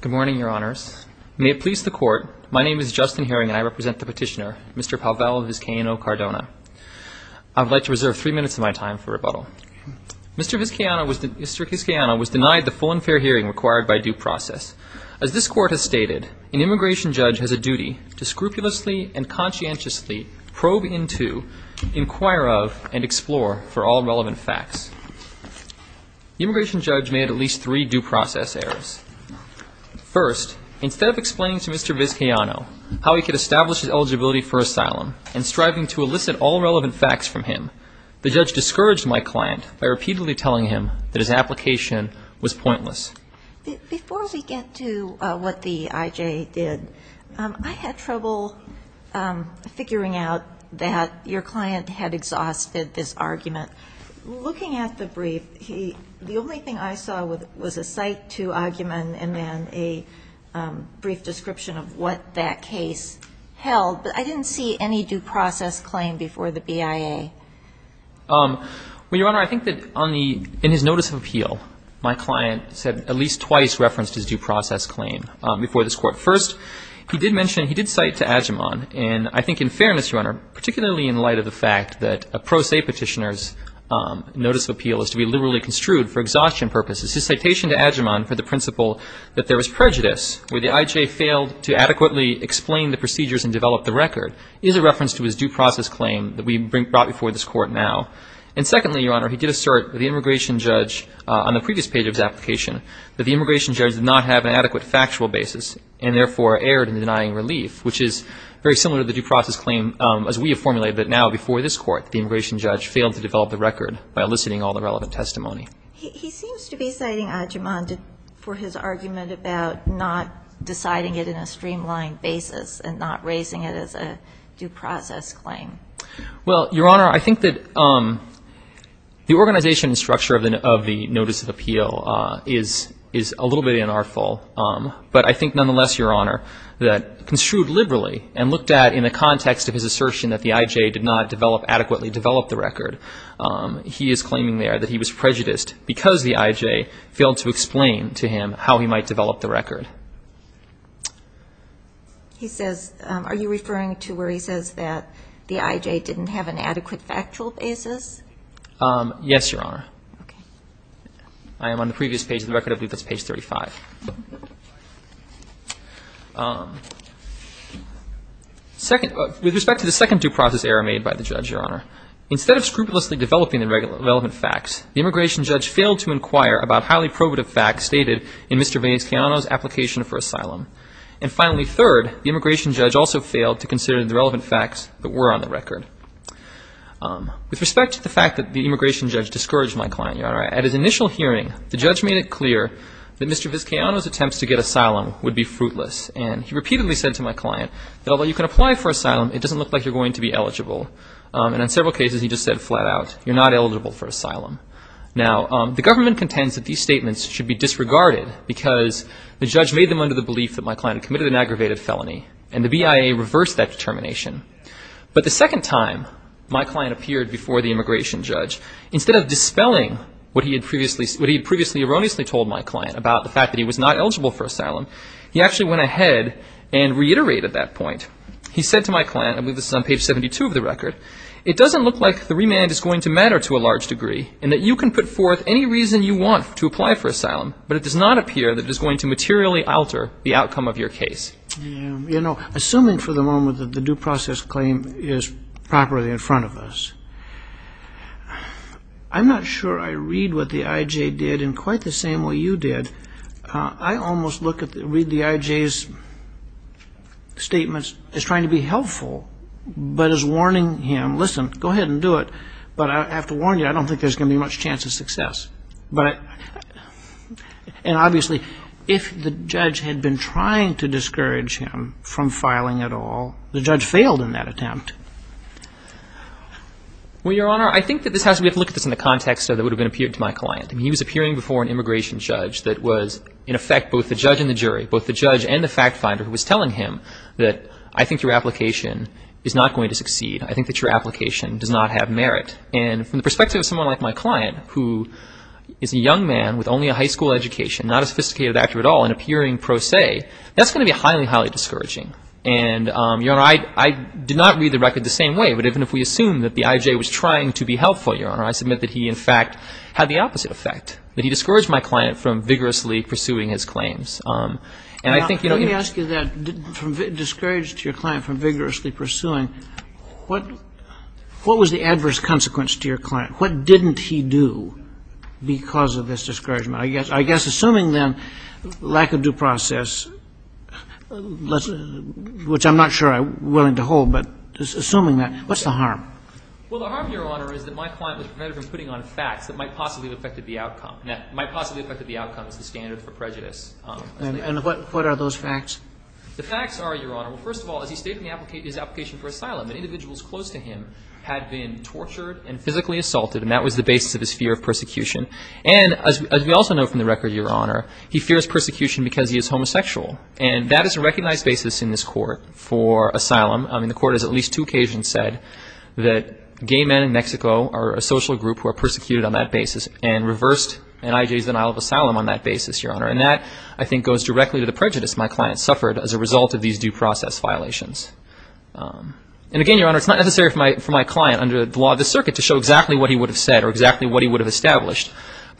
Good morning, Your Honors. May it please the Court, my name is Justin Herring and I represent the petitioner, Mr. Pavel Vizcaino Cardona. I would like to reserve three minutes of my time for rebuttal. Mr. Vizcaino was denied the full and fair hearing required by due process. As this Court has stated, an immigration judge has a duty to scrupulously and conscientiously probe into, inquire of, and explore for all relevant facts. The immigration judge made at least three due process errors. First, instead of explaining to Mr. Vizcaino how he could establish his eligibility for asylum and striving to elicit all relevant facts from him, the judge discouraged my client by repeatedly telling him that his application was pointless. Before we get to what the I.J. did, I had trouble figuring out that your client had a brief description of what that case held, but I didn't see any due process claim before the BIA. Well, Your Honor, I think that on the, in his notice of appeal, my client said at least twice referenced his due process claim before this Court. First, he did mention, he did cite to Adjaman, and I think in fairness, Your Honor, particularly in light of the fact that a pro se petitioner's notice of appeal is to be liberally construed for exhaustion purposes. His citation to Adjaman for the principle that there was prejudice, where the I.J. failed to adequately explain the procedures and develop the record, is a reference to his due process claim that we brought before this Court now. And secondly, Your Honor, he did assert that the immigration judge on the previous page of his application, that the immigration judge did not have an adequate factual basis and therefore erred in denying relief, which is very similar to the due process claim as we have formulated, but now before this Court, the immigration judge failed to develop the record by eliciting all the relevant testimony. He seems to be citing Adjaman for his argument about not deciding it in a streamlined basis and not raising it as a due process claim. Well, Your Honor, I think that the organization and structure of the notice of appeal is a little bit unartful, but I think nonetheless, Your Honor, that construed liberally and looked at in the context of his assertion that the I.J. did not develop, adequately develop the record, he is claiming there that he was prejudiced because the I.J. failed to explain to him how he might develop the record. He says, are you referring to where he says that the I.J. didn't have an adequate factual basis? Yes, Your Honor. Okay. I am on the previous page of the record, I believe that's page 35. With respect to the second due process error made by the judge, Your Honor, instead of scrupulously developing the relevant facts, the immigration judge failed to inquire about highly probative facts stated in Mr. Vizcayano's application for asylum. And finally, third, the immigration judge also failed to consider the relevant facts that were on the record. With respect to the fact that the immigration judge discouraged my client, Your Honor, Mr. Vizcayano's attempts to get asylum would be fruitless, and he repeatedly said to my client that although you can apply for asylum, it doesn't look like you're going to be eligible. And in several cases he just said flat out, you're not eligible for asylum. Now, the government contends that these statements should be disregarded because the judge made them under the belief that my client had committed an aggravated felony, and the BIA reversed that determination. But the second time my client appeared before the immigration judge, instead of that he was not eligible for asylum, he actually went ahead and reiterated that point. He said to my client, I believe this is on page 72 of the record, it doesn't look like the remand is going to matter to a large degree, and that you can put forth any reason you want to apply for asylum, but it does not appear that it is going to materially alter the outcome of your case. You know, assuming for the moment that the due process claim is properly in front of I almost read the IJ's statements as trying to be helpful, but as warning him, listen, go ahead and do it, but I have to warn you, I don't think there's going to be much chance of success. And obviously, if the judge had been trying to discourage him from filing at all, the judge failed in that attempt. Well, Your Honor, I think that we have to look at this in the context of it would have been appeared to my client. I mean, he was appearing before an immigration judge that was, in effect, both the judge and the jury, both the judge and the fact finder who was telling him that I think your application is not going to succeed, I think that your application does not have merit. And from the perspective of someone like my client, who is a young man with only a high school education, not a sophisticated actor at all, and appearing pro se, that's going to be highly, highly discouraging. And Your Honor, I did not read the record the same way, but even if we assume that the that he discouraged my client from vigorously pursuing his claims. And I think, you know, you Let me ask you that, discouraged your client from vigorously pursuing, what was the adverse consequence to your client? What didn't he do because of this discouragement? I guess assuming, then, lack of due process, which I'm not sure I'm willing to hold, but assuming that, what's the harm? Well, the harm, Your Honor, is that my client was prevented from putting on facts that might possibly have affected the outcome. And that might possibly have affected the outcome is the standard for prejudice. And what are those facts? The facts are, Your Honor, well, first of all, as he stated in his application for asylum, that individuals close to him had been tortured and physically assaulted, and that was the basis of his fear of persecution. And as we also know from the record, Your Honor, he fears persecution because he is homosexual. And that is a recognized basis in this court for asylum. I mean, the court has at least two occasions said that gay men in Mexico are a social group who are persecuted on that basis, and reversed an IJ's denial of asylum on that basis, Your Honor. And that, I think, goes directly to the prejudice my client suffered as a result of these due process violations. And again, Your Honor, it's not necessary for my client, under the law of the circuit, to show exactly what he would have said or exactly what he would have established,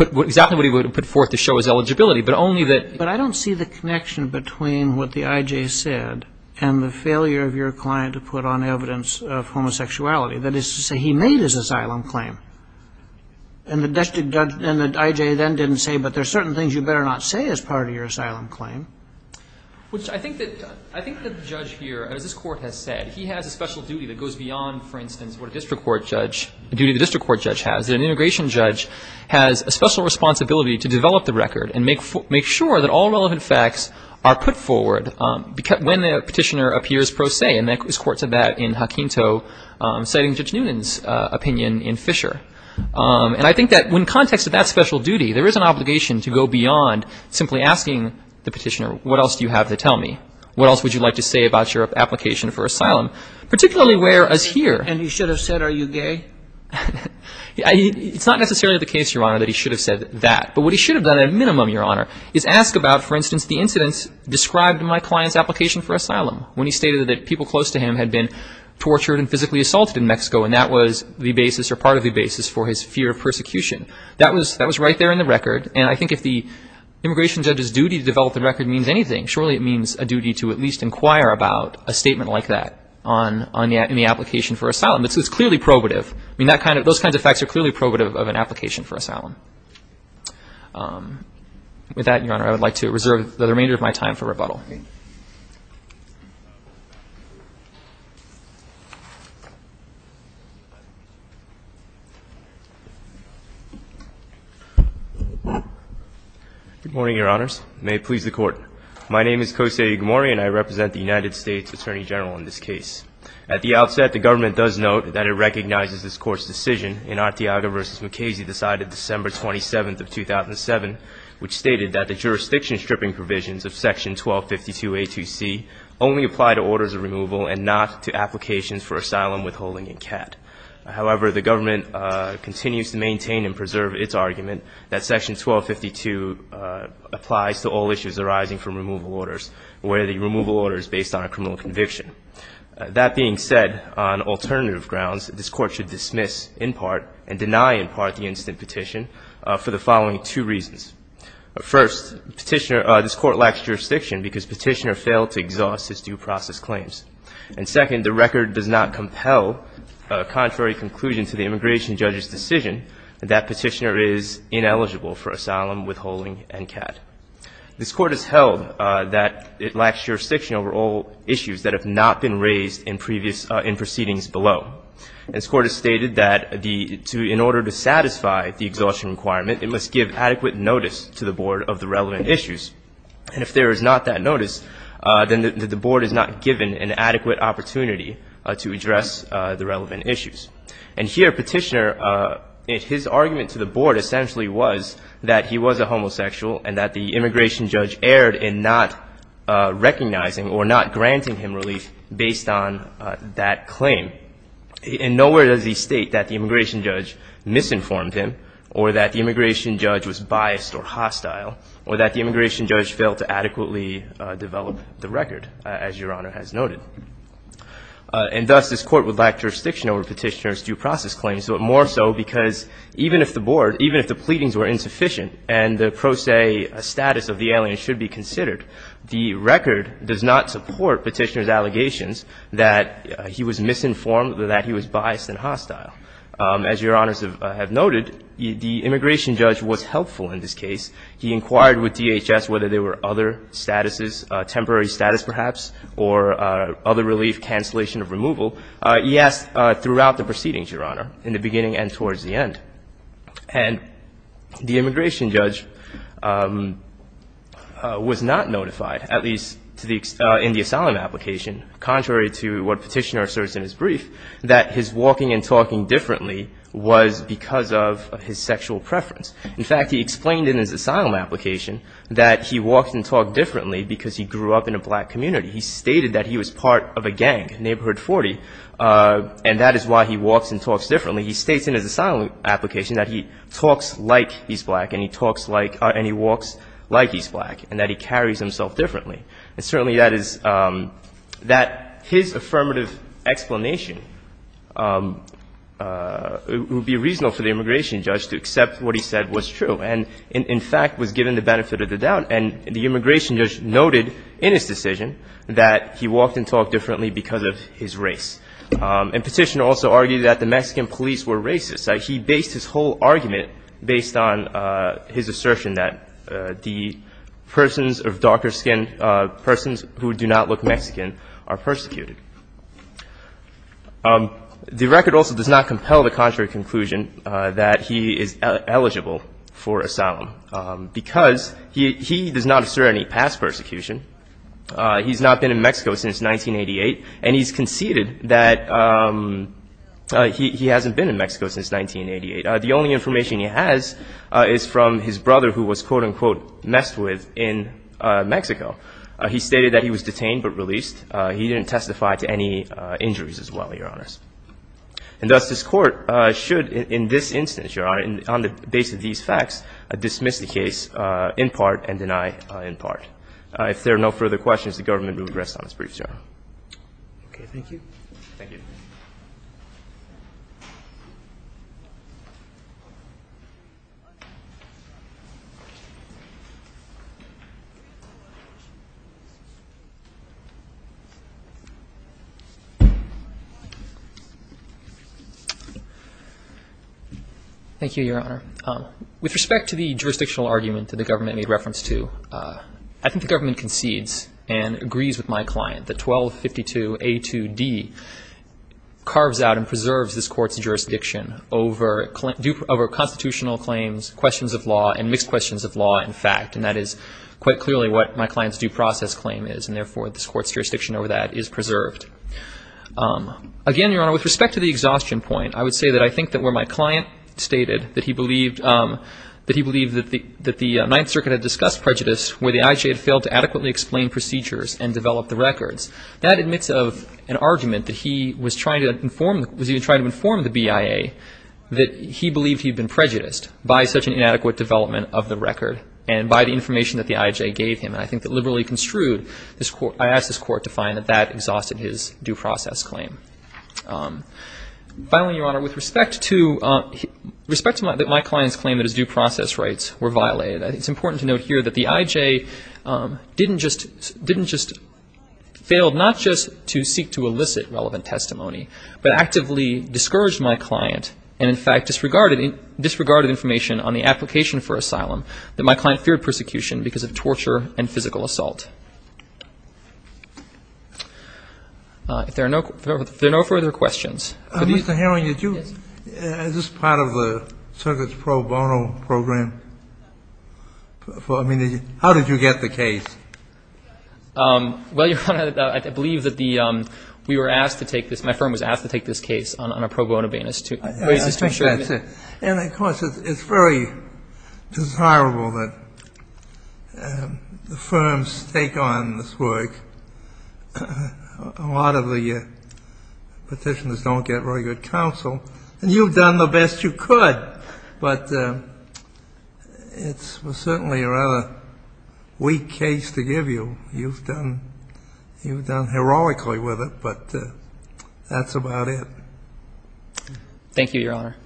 exactly what he would have put forth to show his eligibility, but only that... But I don't see the connection between what the IJ said and the failure of your client to put on evidence of homosexuality. That is to say, he made his asylum claim. And the district judge and the IJ then didn't say, but there are certain things you better not say as part of your asylum claim. Which I think that the judge here, as this Court has said, he has a special duty that goes beyond, for instance, what a district court judge, the duty the district court judge has. An integration judge has a special responsibility to develop the record and make sure that all relevant facts are put forward when the petitioner appears pro se. And this Court said that in Hakinto, citing Judge Noonan's opinion in Fisher. And I think that in context of that special duty, there is an obligation to go beyond simply asking the petitioner, what else do you have to tell me? What else would you like to say about your application for asylum? Particularly where as here... And he should have said, are you gay? It's not necessarily the case, Your Honor, that he should have said that. But what he should have done, at a minimum, Your Honor, is ask about, for instance, the incidents described in my client's application for asylum, when he stated that people close to him had been tortured and physically assaulted in Mexico, and that was the basis or part of the basis for his fear of persecution. That was right there in the record. And I think if the immigration judge's duty to develop the record means anything, surely it means a duty to at least inquire about a statement like that on the application for asylum. It's clearly probative. I mean, that kind of – those kinds of facts are clearly probative of an application for asylum. With that, Your Honor, I would like to reserve the remainder of my time for rebuttal. Thank you. Good morning, Your Honors. May it please the Court. My name is Kose Igamori and I represent the United States Attorney General in this case. At the outset, the government does note that it recognizes this Court's decision in Antioga v. McKaysey, the side of December 27th of 2007, which stated that the jurisdiction stripping provisions of Section 1252A2C only apply to orders of removal and not to applications for asylum, withholding, and CAT. However, the government continues to maintain and preserve its argument that Section 1252 applies to all issues arising from removal orders where the removal order is based on a criminal conviction. That being said, on alternative grounds, this Court should dismiss in part and deny in part the instant petition for the following two reasons. First, Petitioner – this Court lacks jurisdiction because Petitioner failed to exhaust his due process claims. And second, the record does not compel, contrary to conclusion to the immigration judge's decision, that Petitioner is ineligible for asylum, withholding, and CAT. This Court has held that it lacks jurisdiction over all issues that have not been raised in previous – in proceedings below. This Court has stated that the – to – in order to satisfy the exhaustion requirement, it must give adequate notice to the Board of the relevant issues. And if there is not that notice, then the Board is not given an adequate opportunity to address the relevant issues. And here, Petitioner – his argument to the Board essentially was that he was a homosexual and that the immigration judge erred in not recognizing or not granting him relief based on that claim. And nowhere does he state that the immigration judge misinformed him or that the immigration judge was biased or hostile or that the immigration judge failed to adequately develop the record, as Your Honor has noted. And thus, this Court would lack jurisdiction over Petitioner's due process claims, but more so because even if the Board – even if the pleadings were insufficient and the pro se status of the alien should be considered, the record does not support Petitioner's allegations that he was misinformed or that he was biased and hostile. As Your Honors have noted, the immigration judge was helpful in this case. He inquired with DHS whether there were other statuses, temporary status perhaps, or other relief, cancellation of removal. He asked throughout the proceedings, Your Honor, in the beginning and towards the end. And the immigration judge was not notified, at least to the – in the asylum application, contrary to what Petitioner asserts in his brief, that his walking and talking differently was because of his sexual preference. In fact, he explained in his asylum application that he walked and talked differently because he grew up in a black community. He stated that he was part of a gang, Neighborhood 40, and that is why he walks and talks differently. He states in his asylum application that he talks like he's black and he talks like – and he walks like he's black and that he carries himself differently. And certainly that is – that his affirmative explanation would be reasonable for the immigration judge to accept what he said was true and, in fact, was given the benefit of the doubt. And the immigration judge noted in his decision that he walked and talked differently because of his race. And Petitioner also argued that the Mexican police were racist. He based his whole argument based on his assertion that the persons of darker skin, persons who do not look Mexican, are persecuted. The record also does not compel the contrary conclusion that he is eligible for asylum because he does not assert any past persecution. He's not been in Mexico since 1988. And he's conceded that he hasn't been in Mexico since 1988. The only information he has is from his brother who was, quote, unquote, messed with in Mexico. He stated that he was detained but released. He didn't testify to any injuries as well, Your Honors. And thus, this Court should, in this instance, Your Honor, on the basis of these facts, dismiss the case in part and deny in part. If there are no further questions, the government will address them as briefs, Your Honor. Okay, thank you. Thank you, Your Honor. With respect to the jurisdictional argument that the government made reference to, I think the government concedes and agrees with my client that 1252A2D carves out and preserves this Court's jurisdiction over constitutional claims, questions of law, and mixed questions of law and fact. And that is quite clearly what my client's due process claim is. And therefore, this Court's jurisdiction over that is preserved. Again, Your Honor, with respect to the exhaustion point, I would say that I think that where my client stated that he believed that the Ninth Circuit had discussed prejudice, where the IJA had failed to adequately explain procedures and develop the records, that admits of an argument that he was trying to inform the BIA that he believed he had been prejudiced by such an inadequate development of the record and by the information that the IJA gave him. And I think that liberally construed, I ask this Court to find that that exhausted his due process claim. Finally, Your Honor, with respect to my client's claim that his due process rights were violated, I think it's important to note here that the IJA didn't just failed not just to seek to elicit relevant testimony, but actively discouraged my client and, in fact, disregarded information on the application for asylum that my client feared persecution because of torture and physical assault. If there are no further questions. Mr. Herring, is this part of the Circuit's pro bono program? I mean, how did you get the case? Well, Your Honor, I believe that the we were asked to take this, my firm was asked to take this case on a pro bono basis to raise this to assure you. And, of course, it's very desirable that the firms take on this work. A lot of the petitioners don't get very good counsel, and you've done the best you could. But it's certainly a rather weak case to give you. You've done heroically with it, but that's about it. Thank you, Your Honor.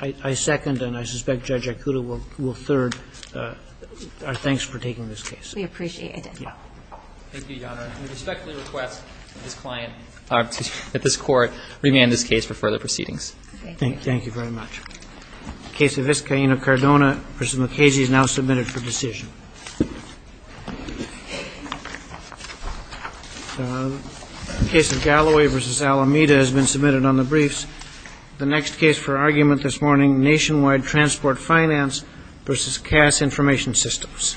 I second, and I suspect Judge Ikuto will third our thanks for taking this case. We appreciate it. Thank you, Your Honor. I respectfully request that this court remand this case for further proceedings. Thank you very much. The case of Eskaina Cardona v. Mukasey is now submitted for decision. The case of Galloway v. Alameda has been submitted on the briefs. The next case for argument this morning, Nationwide Transport Finance v. Kass Information Systems.